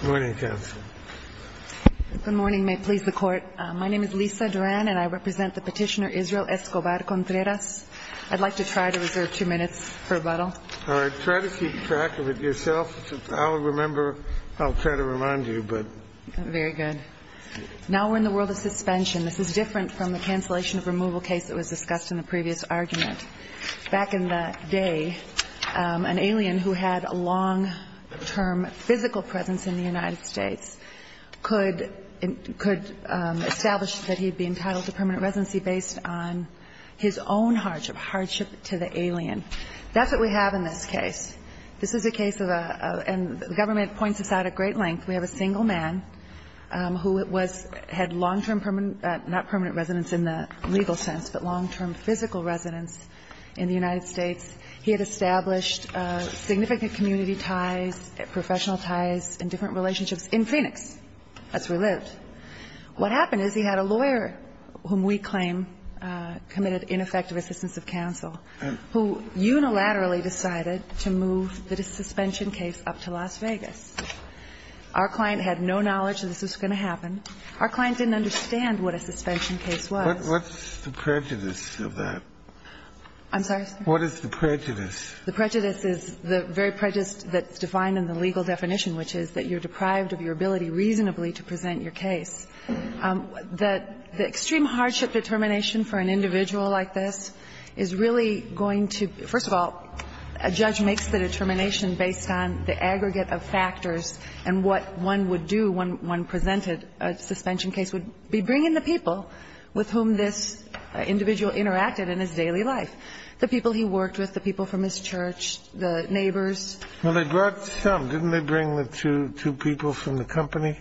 Good morning, counsel. Good morning. May it please the Court. My name is Lisa Duran, and I represent the petitioner Israel Escobar-Contreras. I'd like to try to reserve two minutes for rebuttal. All right. Try to keep track of it yourself. I'll remember. I'll try to remind you. Very good. Now we're in the world of suspension. This is different from the cancellation of removal case that was discussed in the previous argument. Back in the day, an alien who had a long-term physical presence in the United States could establish that he'd be entitled to permanent residency based on his own hardship, hardship to the alien. That's what we have in this case. This is a case of a – and the government points this out at great length. We have a single man who was – had long-term permanent – not permanent residence in the legal sense, but long-term physical residence in the United States. He had established significant community ties, professional ties, and different relationships in Phoenix as we lived. What happened is he had a lawyer, whom we claim committed ineffective assistance of counsel, who unilaterally decided to move the suspension case up to Las Vegas. Our client didn't understand what a suspension case was. What's the prejudice of that? I'm sorry, sir? What is the prejudice? The prejudice is the very prejudice that's defined in the legal definition, which is that you're deprived of your ability reasonably to present your case. The extreme hardship determination for an individual like this is really going to – first of all, a judge makes the determination based on the aggregate of factors and what one would do when one presented a suspension case would be bring in the people with whom this individual interacted in his daily life, the people he worked with, the people from his church, the neighbors. Well, they brought some. Didn't they bring the two people from the company?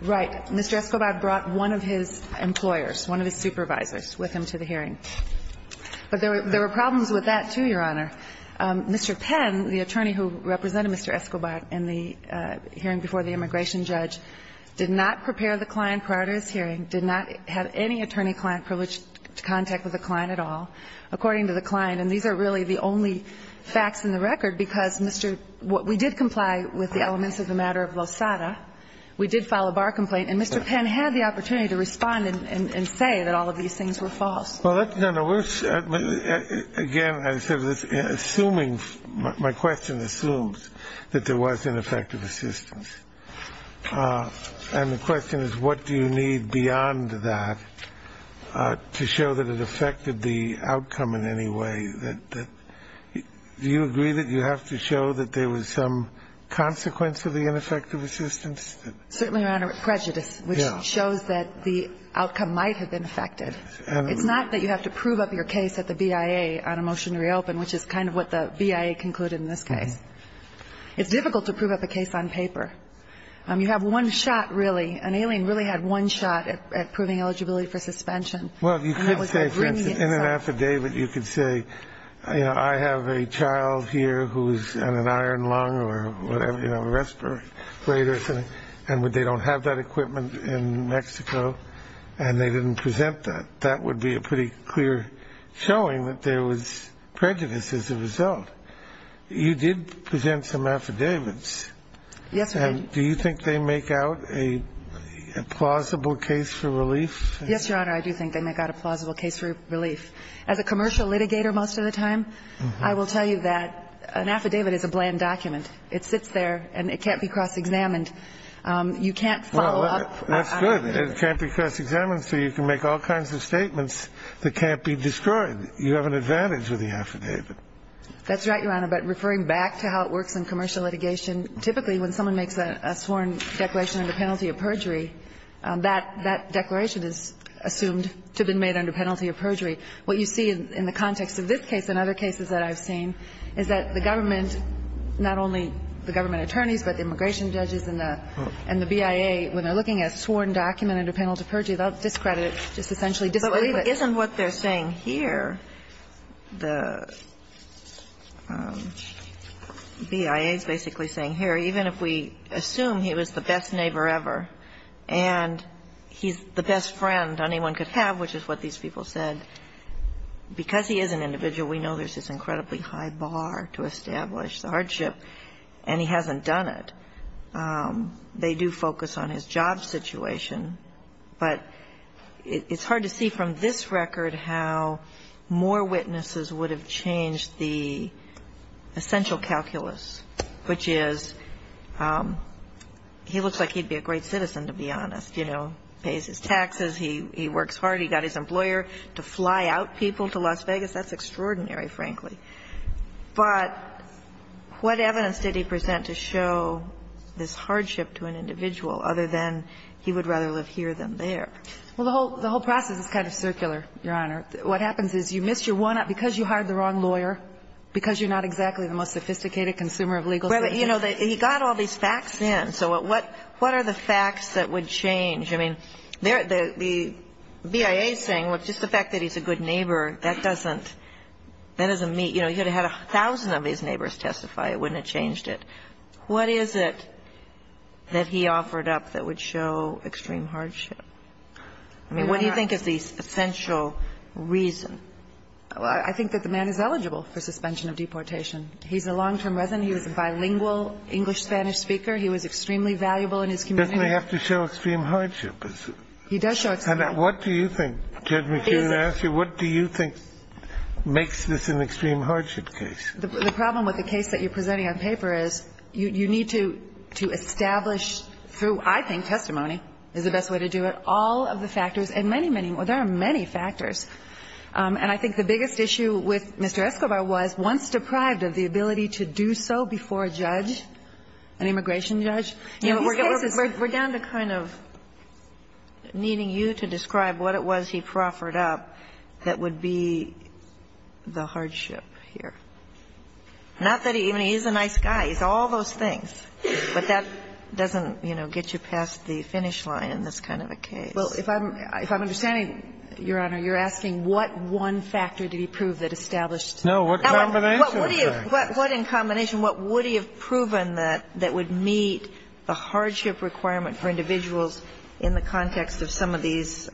Right. Mr. Escobar brought one of his employers, one of his supervisors, with him to the hearing. But there were problems with that, too, Your Honor. Mr. Penn, the attorney who represented Mr. Escobar in the hearing before the immigration judge, did not prepare the client prior to his hearing, did not have any attorney client privilege to contact with the client at all, according to the client. And these are really the only facts in the record, because, Mr. – we did comply with the elements of the matter of Losada. We did file a bar complaint. And Mr. Penn had the opportunity to respond and say that all of these things were Well, that's – no, no, we're – again, I said this, assuming – my question assumes that there was ineffective assistance. And the question is, what do you need beyond that to show that it affected the outcome in any way? Do you agree that you have to show that there was some consequence of the ineffective assistance? Certainly, Your Honor, prejudice, which shows that the outcome might have been affected. It's not that you have to prove up your case at the BIA on a motion to reopen, which is kind of what the BIA concluded in this case. It's difficult to prove up a case on paper. You have one shot, really. An alien really had one shot at proving eligibility for suspension. Well, you could say, for instance, in an affidavit, you could say, you know, I have a child here who's on an iron lung or whatever, you know, a respirator, and they don't have that clear showing that there was prejudice as a result. You did present some affidavits. Yes, we did. And do you think they make out a plausible case for relief? Yes, Your Honor, I do think they make out a plausible case for relief. As a commercial litigator most of the time, I will tell you that an affidavit is a bland document. It sits there, and it can't be cross-examined. You can't follow up on it. That's good. It can't be cross-examined, so you can make all kinds of statements that can't be destroyed. You have an advantage with the affidavit. That's right, Your Honor. But referring back to how it works in commercial litigation, typically when someone makes a sworn declaration under penalty of perjury, that declaration is assumed to have been made under penalty of perjury. What you see in the context of this case and other cases that I've seen is that the government, not only the government attorneys, but the immigration judges and the BIA, when they're looking at a sworn document under penalty of perjury, they'll discredit it, just essentially disbelieve it. But isn't what they're saying here, the BIA is basically saying here, even if we assume he was the best neighbor ever, and he's the best friend anyone could have, which is what these people said, because he is an individual, we know there's this incredibly high bar to establish the hardship, and he hasn't done it. They do focus on his job situation, but it's hard to see from this record how more witnesses would have changed the essential calculus, which is he looks like he'd be a great citizen, to be honest. You know, pays his taxes, he works hard, he got his employer to fly out people to Las Vegas. That's extraordinary, frankly. But what evidence did he present to show this hardship to an individual other than he would rather live here than there? Well, the whole process is kind of circular, Your Honor. What happens is you missed your one up because you hired the wrong lawyer, because you're not exactly the most sophisticated consumer of legal services. Well, but, you know, he got all these facts in. So what are the facts that would change? I mean, the BIA is saying, well, just the fact that he's a good neighbor, that doesn't mean, you know, he would have had a thousand of his neighbors testify. It wouldn't have changed it. What is it that he offered up that would show extreme hardship? I mean, what do you think is the essential reason? I think that the man is eligible for suspension of deportation. He's a long-term resident. He was a bilingual English-Spanish speaker. He was extremely valuable in his community. Doesn't he have to show extreme hardship? He does show extreme hardship. And what do you think, Judge McKeown, I ask you, what do you think makes this an extreme hardship case? The problem with the case that you're presenting on paper is you need to establish through, I think, testimony is the best way to do it, all of the factors and many, many more. There are many factors. And I think the biggest issue with Mr. Escobar was, once deprived of the ability to do so before a judge, an immigration judge, in these cases we're down to kind of needing you to describe what it was he proffered up that would be the hardship here. Not that he even he's a nice guy. He's all those things. But that doesn't, you know, get you past the finish line in this kind of a case. Well, if I'm understanding, Your Honor, you're asking what one factor did he prove that established. No. What in combination, what would he have proven that would meet the hardship requirement for individuals in the context of some of these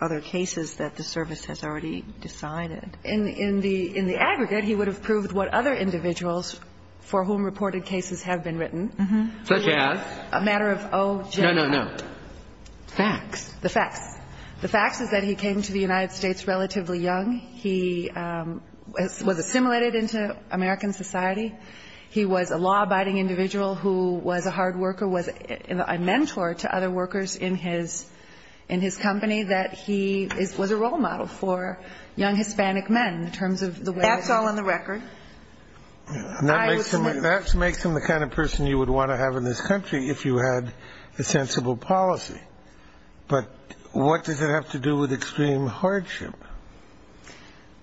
other cases that the service has already decided? In the aggregate, he would have proved what other individuals for whom reported cases have been written. Such as? A matter of o general. No, no, no. Facts. The facts. The facts is that he came to the United States relatively young. He was assimilated into American society. He was a law-abiding individual who was a hard worker, was a mentor to other workers in his company. That he was a role model for young Hispanic men in terms of the way. That's all on the record. That makes him the kind of person you would want to have in this country if you had a sensible policy. But what does it have to do with extreme hardship?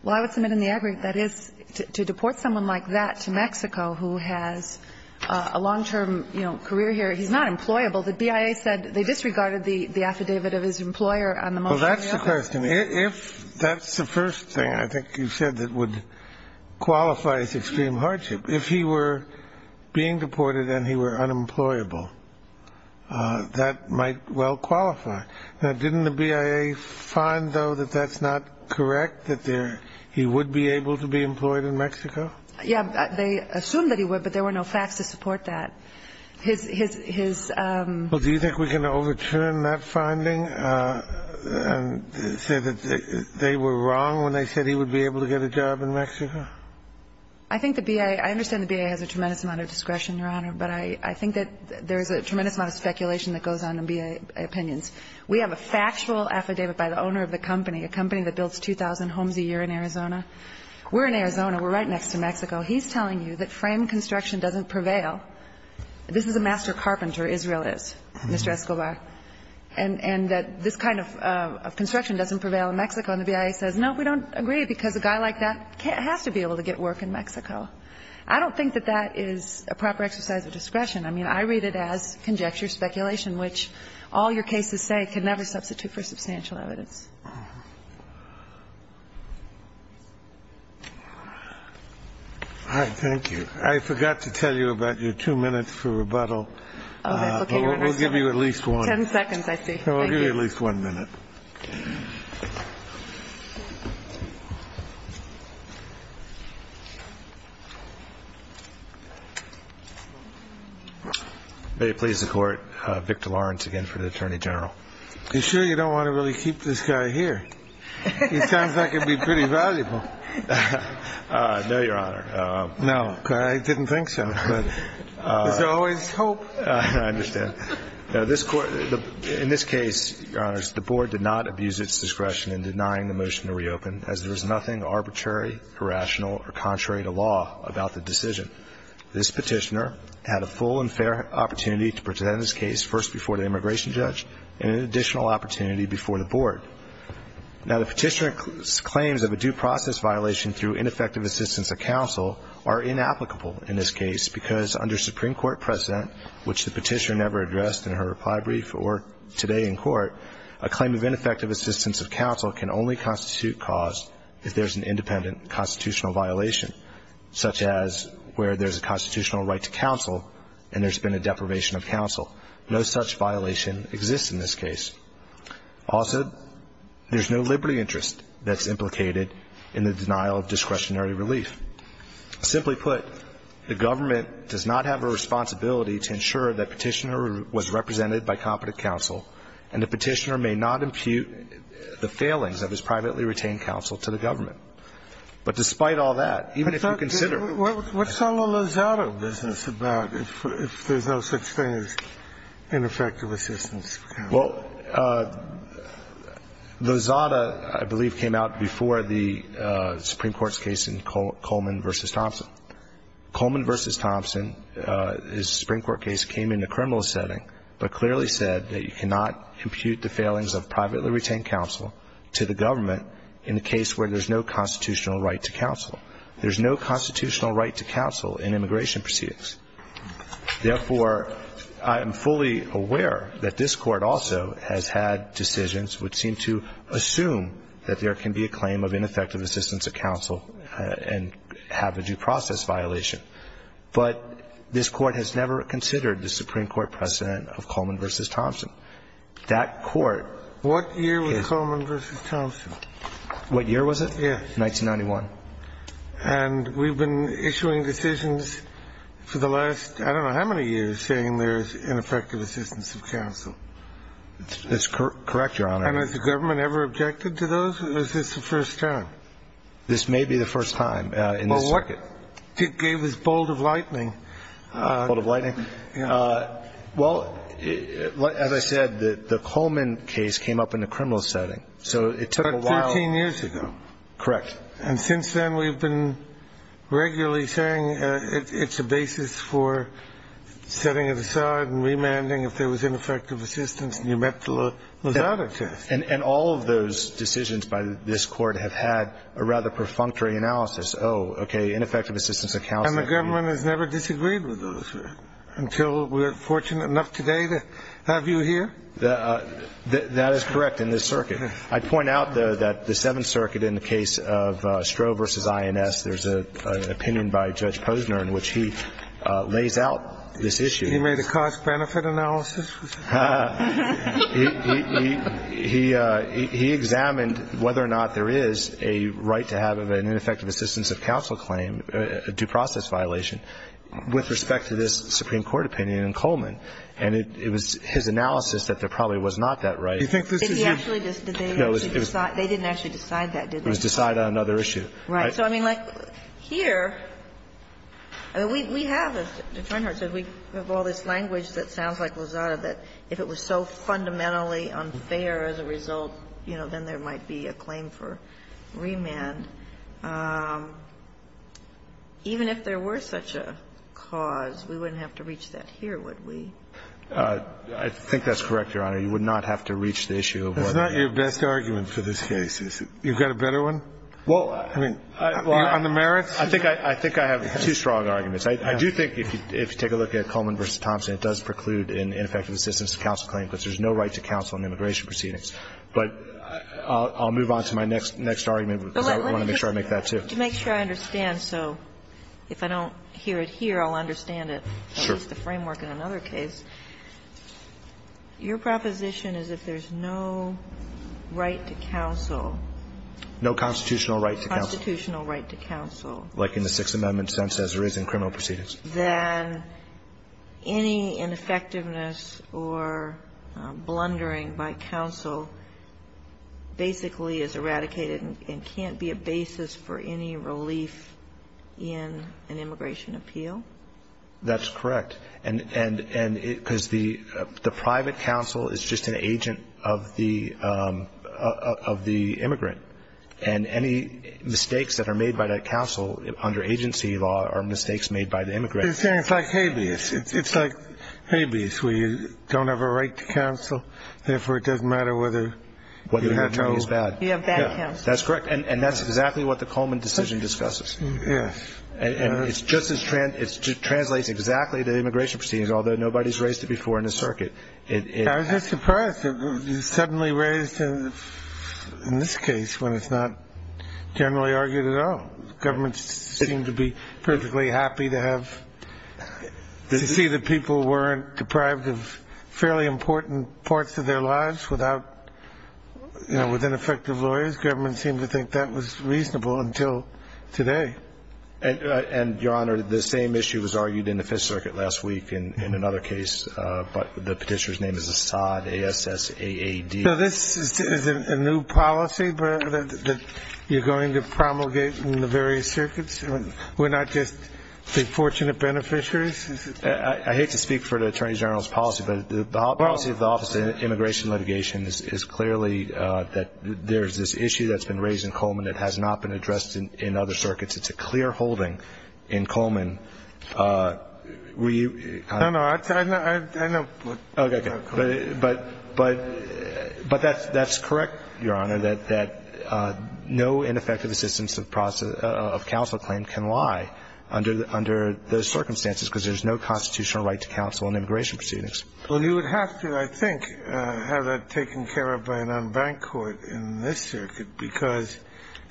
Well, I would submit in the aggregate that is to deport someone like that to Mexico who has a long-term career here, he's not employable. The BIA said they disregarded the affidavit of his employer. Well, that's the question. If that's the first thing I think you said that would qualify as extreme hardship. If he were being deported and he were unemployable, that might well qualify. Now, didn't the BIA find, though, that that's not correct? That he would be able to be employed in Mexico? Yeah. They assumed that he would, but there were no facts to support that. Well, do you think we can overturn that finding and say that they were wrong when they said he would be able to get a job in Mexico? I think the BIA, I understand the BIA has a tremendous amount of discretion, Your Honor, but I think that there is a tremendous amount of speculation that goes on in BIA opinions. We have a factual affidavit by the owner of the company, a company that builds 2,000 homes a year in Arizona. We're in Arizona. We're right next to Mexico. He's telling you that frame construction doesn't prevail. This is a master carpenter, Israel is, Mr. Escobar, and that this kind of construction doesn't prevail in Mexico. And the BIA says, no, we don't agree because a guy like that has to be able to get work in Mexico. I don't think that that is a proper exercise of discretion. I mean, I read it as conjecture, speculation, which all your cases say can never substitute for substantial evidence. All right. Thank you. I forgot to tell you about your two minutes for rebuttal. Okay. We'll give you at least one. Ten seconds, I see. Thank you. We'll give you at least one minute. May it please the Court, Victor Lawrence again for the Attorney General. You sure you don't want to really keep this guy here? He sounds like he'd be pretty valuable. No, Your Honor. No, I didn't think so. There's always hope. I understand. In this case, Your Honor, the Board did not abuse its discretion in denying the motion to reopen as there was nothing arbitrary, irrational, or contrary to law about the decision. This petitioner had a full and fair opportunity to present his case first before the immigration judge and an additional opportunity before the Board. Now, the petitioner's claims of a due process violation through ineffective assistance of counsel are inapplicable in this case because under Supreme Court precedent, which the petitioner never addressed in her reply brief or today in court, a claim of ineffective assistance of counsel can only constitute cause if there's an independent constitutional violation, such as where there's a constitutional right to counsel and there's been a deprivation of counsel. No such violation exists in this case. Also, there's no liberty interest that's implicated in the denial of discretionary relief. Simply put, the government does not have a responsibility to ensure that petitioner was represented by competent counsel and the petitioner may not impute the failings of his privately retained counsel to the government. But despite all that, even if you consider the fact that the government has no liberty interest, it's not a liability interest. What's all the Lozada business about if there's no such thing as ineffective assistance of counsel? Well, Lozada, I believe, came out before the Supreme Court's case in Coleman v. Thompson. Coleman v. Thompson, his Supreme Court case, came in the criminal setting but clearly said that you cannot impute the failings of privately retained counsel to the government in the case where there's no constitutional right to counsel. There's no constitutional right to counsel in immigration proceedings. Therefore, I am fully aware that this Court also has had decisions which seem to assume that there can be a claim of ineffective assistance of counsel and have a due process violation. But this Court has never considered the Supreme Court precedent of Coleman v. Thompson. That Court can't. What year was Coleman v. Thompson? What year was it? Yes. 1991. And we've been issuing decisions for the last, I don't know how many years, saying there's ineffective assistance of counsel. That's correct, Your Honor. And has the government ever objected to those? Or is this the first time? This may be the first time. Well, what gave this bolt of lightning? Bolt of lightning? Well, as I said, the Coleman case came up in the criminal setting. So it took a while. About 13 years ago. Correct. And since then, we've been regularly saying it's a basis for setting it aside and remanding if there was ineffective assistance. And you met the Lozada test. And all of those decisions by this Court have had a rather perfunctory analysis. Oh, okay, ineffective assistance of counsel. And the government has never disagreed with those until we're fortunate enough today to have you here? That is correct, in this circuit. I'd point out, though, that the Seventh Circuit in the case of Stroh v. INS, there's an opinion by Judge Posner in which he lays out this issue. He made a cost-benefit analysis? He examined whether or not there is a right to have an ineffective assistance of counsel claim, a due process violation, with respect to this Supreme Court opinion in Coleman. And it was his analysis that there probably was not that right. Do you think this is your? No. They didn't actually decide that, did they? It was decided on another issue. Right. So, I mean, like, here, we have, as Your Honor said, we have all this language that sounds like Lozada, that if it was so fundamentally unfair as a result, you know, then there might be a claim for remand. Even if there were such a cause, we wouldn't have to reach that here, would we? I think that's correct, Your Honor. You would not have to reach the issue of whether or not. That's not your best argument for this case, is it? You've got a better one? Well, I mean, on the merits? I think I have two strong arguments. I do think if you take a look at Coleman v. Thompson, it does preclude an ineffective assistance of counsel claim, because there's no right to counsel in immigration proceedings. But I'll move on to my next argument, because I want to make sure I make that, too. To make sure I understand. So if I don't hear it here, I'll understand it. Sure. At least the framework in another case. Your proposition is if there's no right to counsel. No constitutional right to counsel. Constitutional right to counsel. Like in the Sixth Amendment sense, as there is in criminal proceedings. Then any ineffectiveness or blundering by counsel basically is eradicated and can't be a basis for any relief in an immigration appeal? That's correct. And because the private counsel is just an agent of the immigrant. And any mistakes that are made by that counsel under agency law are mistakes made by the immigrant. It's like habeas. It's like habeas, where you don't have a right to counsel. Therefore, it doesn't matter whether you have bad counsel. That's correct. And that's exactly what the Coleman decision discusses. Yes. And it translates exactly to immigration proceedings, although nobody's raised it before in the circuit. I was just surprised it was suddenly raised in this case when it's not generally argued at all. Governments seem to be perfectly happy to see that people weren't deprived of fairly important parts of their lives with ineffective lawyers. And the U.S. government seemed to think that was reasonable until today. And, Your Honor, the same issue was argued in the Fifth Circuit last week in another case, but the petitioner's name is Assad, A-S-S-A-A-D. So this is a new policy that you're going to promulgate in the various circuits? We're not just the fortunate beneficiaries? I hate to speak for the Attorney General's policy, but the policy of the Office of Immigration and Litigation is clearly that there's this issue that's been raised in Coleman that has not been addressed in other circuits. It's a clear holding in Coleman. No, no, I know. Okay. But that's correct, Your Honor, that no ineffective assistance of counsel claim can lie under those circumstances because there's no constitutional right to counsel in immigration proceedings. Well, you would have to, I think, have that taken care of by an unbanked court in this circuit because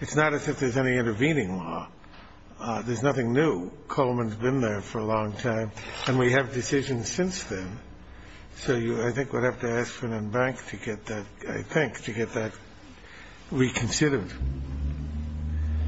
it's not as if there's any intervening law. There's nothing new. Coleman's been there for a long time, and we have decisions since then. So I think we'd have to ask for an unbanked to get that, I think, to get that reconsidered.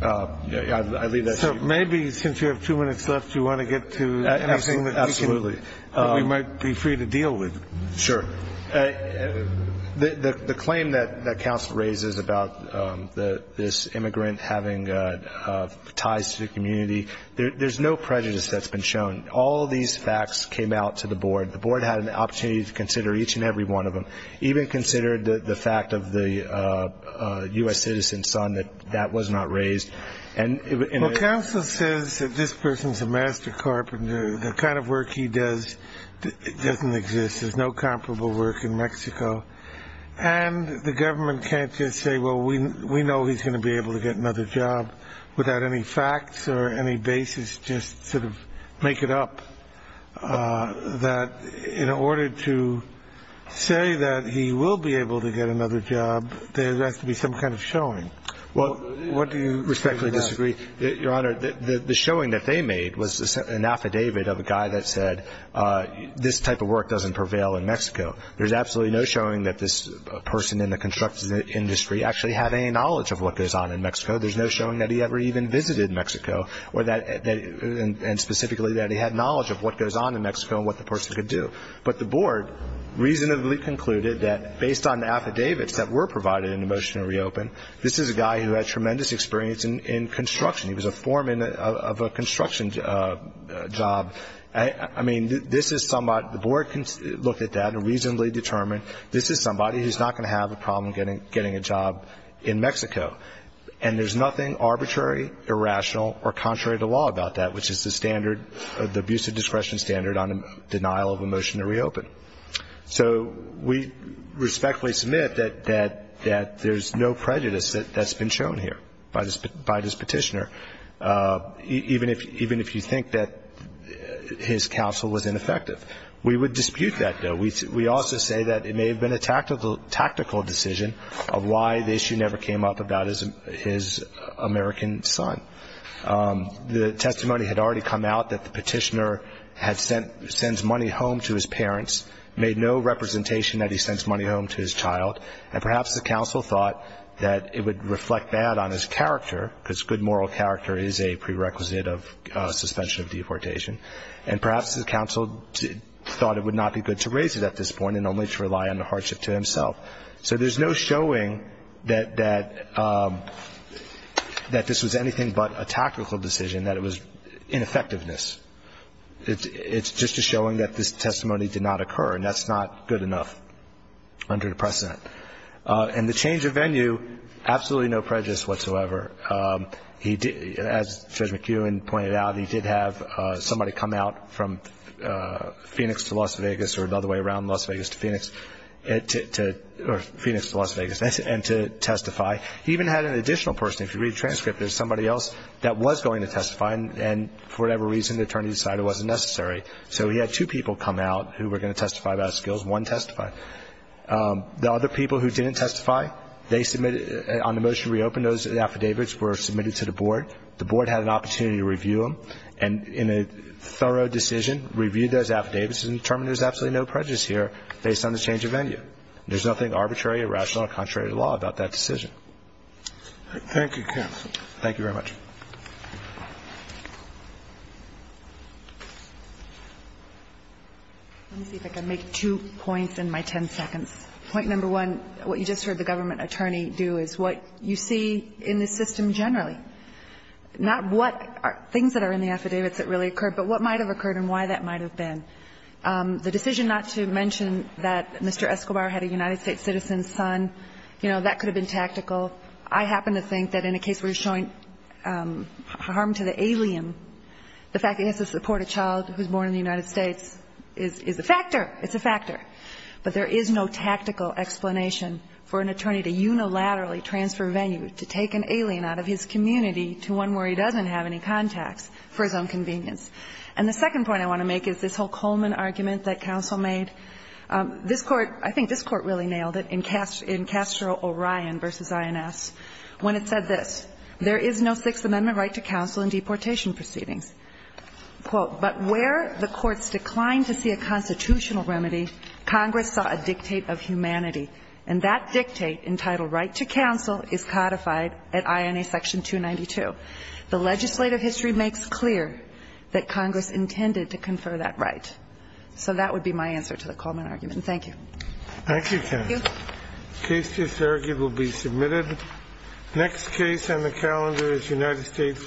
I leave that to you. So maybe since you have two minutes left, you want to get to anything that we might be free to deal with. Sure. The claim that counsel raises about this immigrant having ties to the community, there's no prejudice that's been shown. All these facts came out to the board. The board had an opportunity to consider each and every one of them, even consider the fact of the U.S. citizen's son that that was not raised. Well, counsel says that this person's a master carpenter. The kind of work he does doesn't exist. There's no comparable work in Mexico. And the government can't just say, well, we know he's going to be able to get another job without any facts or any basis, just sort of make it up, that in order to say that he will be able to get another job, there has to be some kind of showing. Well, what do you say to that? Respectfully disagree. Your Honor, the showing that they made was an affidavit of a guy that said this type of work doesn't prevail in Mexico. There's absolutely no showing that this person in the construction industry actually had any knowledge of what goes on in Mexico. There's no showing that he ever even visited Mexico, and specifically that he had knowledge of what goes on in Mexico and what the person could do. But the board reasonably concluded that based on the affidavits that were provided in the motion to reopen, this is a guy who had tremendous experience in construction. He was a foreman of a construction job. I mean, this is somebody, the board looked at that and reasonably determined this is somebody who's not going to have a problem getting a job in Mexico. And there's nothing arbitrary, irrational, or contrary to law about that, which is the standard, the abuse of discretion standard on denial of a motion to reopen. So we respectfully submit that there's no prejudice that's been shown here by this petitioner, even if you think that his counsel was ineffective. We would dispute that, though. We also say that it may have been a tactical decision of why the issue never came up about his American son. The testimony had already come out that the petitioner sends money home to his parents, made no representation that he sends money home to his child, and perhaps the counsel thought that it would reflect bad on his character, because good moral character is a prerequisite of suspension of deportation. And perhaps the counsel thought it would not be good to raise it at this point and only to rely on the hardship to himself. So there's no showing that this was anything but a tactical decision, that it was ineffectiveness. It's just a showing that this testimony did not occur, and that's not good enough under the precedent. And the change of venue, absolutely no prejudice whatsoever. As Judge McEwen pointed out, he did have somebody come out from Phoenix to Las Vegas or another way around, Las Vegas to Phoenix, or Phoenix to Las Vegas, and to testify. He even had an additional person. If you read the transcript, there's somebody else that was going to testify, and for whatever reason, the attorney decided it wasn't necessary. So he had two people come out who were going to testify about his skills, one testify. The other people who didn't testify, they submitted on the motion to reopen those affidavits, were submitted to the board. The board had an opportunity to review them, and in a thorough decision, reviewed those affidavits and determined there's absolutely no prejudice here based on the change of venue. There's nothing arbitrary, irrational, or contrary to law about that decision. Thank you, counsel. Thank you very much. Let me see if I can make two points in my ten seconds. Point number one, what you just heard the government attorney do is what you see in the system generally, not what things that are in the affidavits that really occurred, but what might have occurred and why that might have been. The decision not to mention that Mr. Escobar had a United States citizen's son, you know, that could have been tactical. I happen to think that in a case where you're showing harm to the alien, the fact that he has to support a child who's born in the United States is a factor. It's a factor. But there is no tactical explanation for an attorney to unilaterally transfer venue, to take an alien out of his community to one where he doesn't have any contacts for his own convenience. And the second point I want to make is this whole Coleman argument that counsel made. This Court, I think this Court really nailed it in Castro-Orion v. INS when it said this, there is no Sixth Amendment right to counsel in deportation proceedings. Quote, but where the courts declined to see a constitutional remedy, Congress saw a dictate of humanity, and that dictate entitled right to counsel is codified at INA section 292. The legislative history makes clear that Congress intended to confer that right. So that would be my answer to the Coleman argument. And thank you. Thank you, Ken. Thank you. Case to surrogate will be submitted. Next case on the calendar is United States.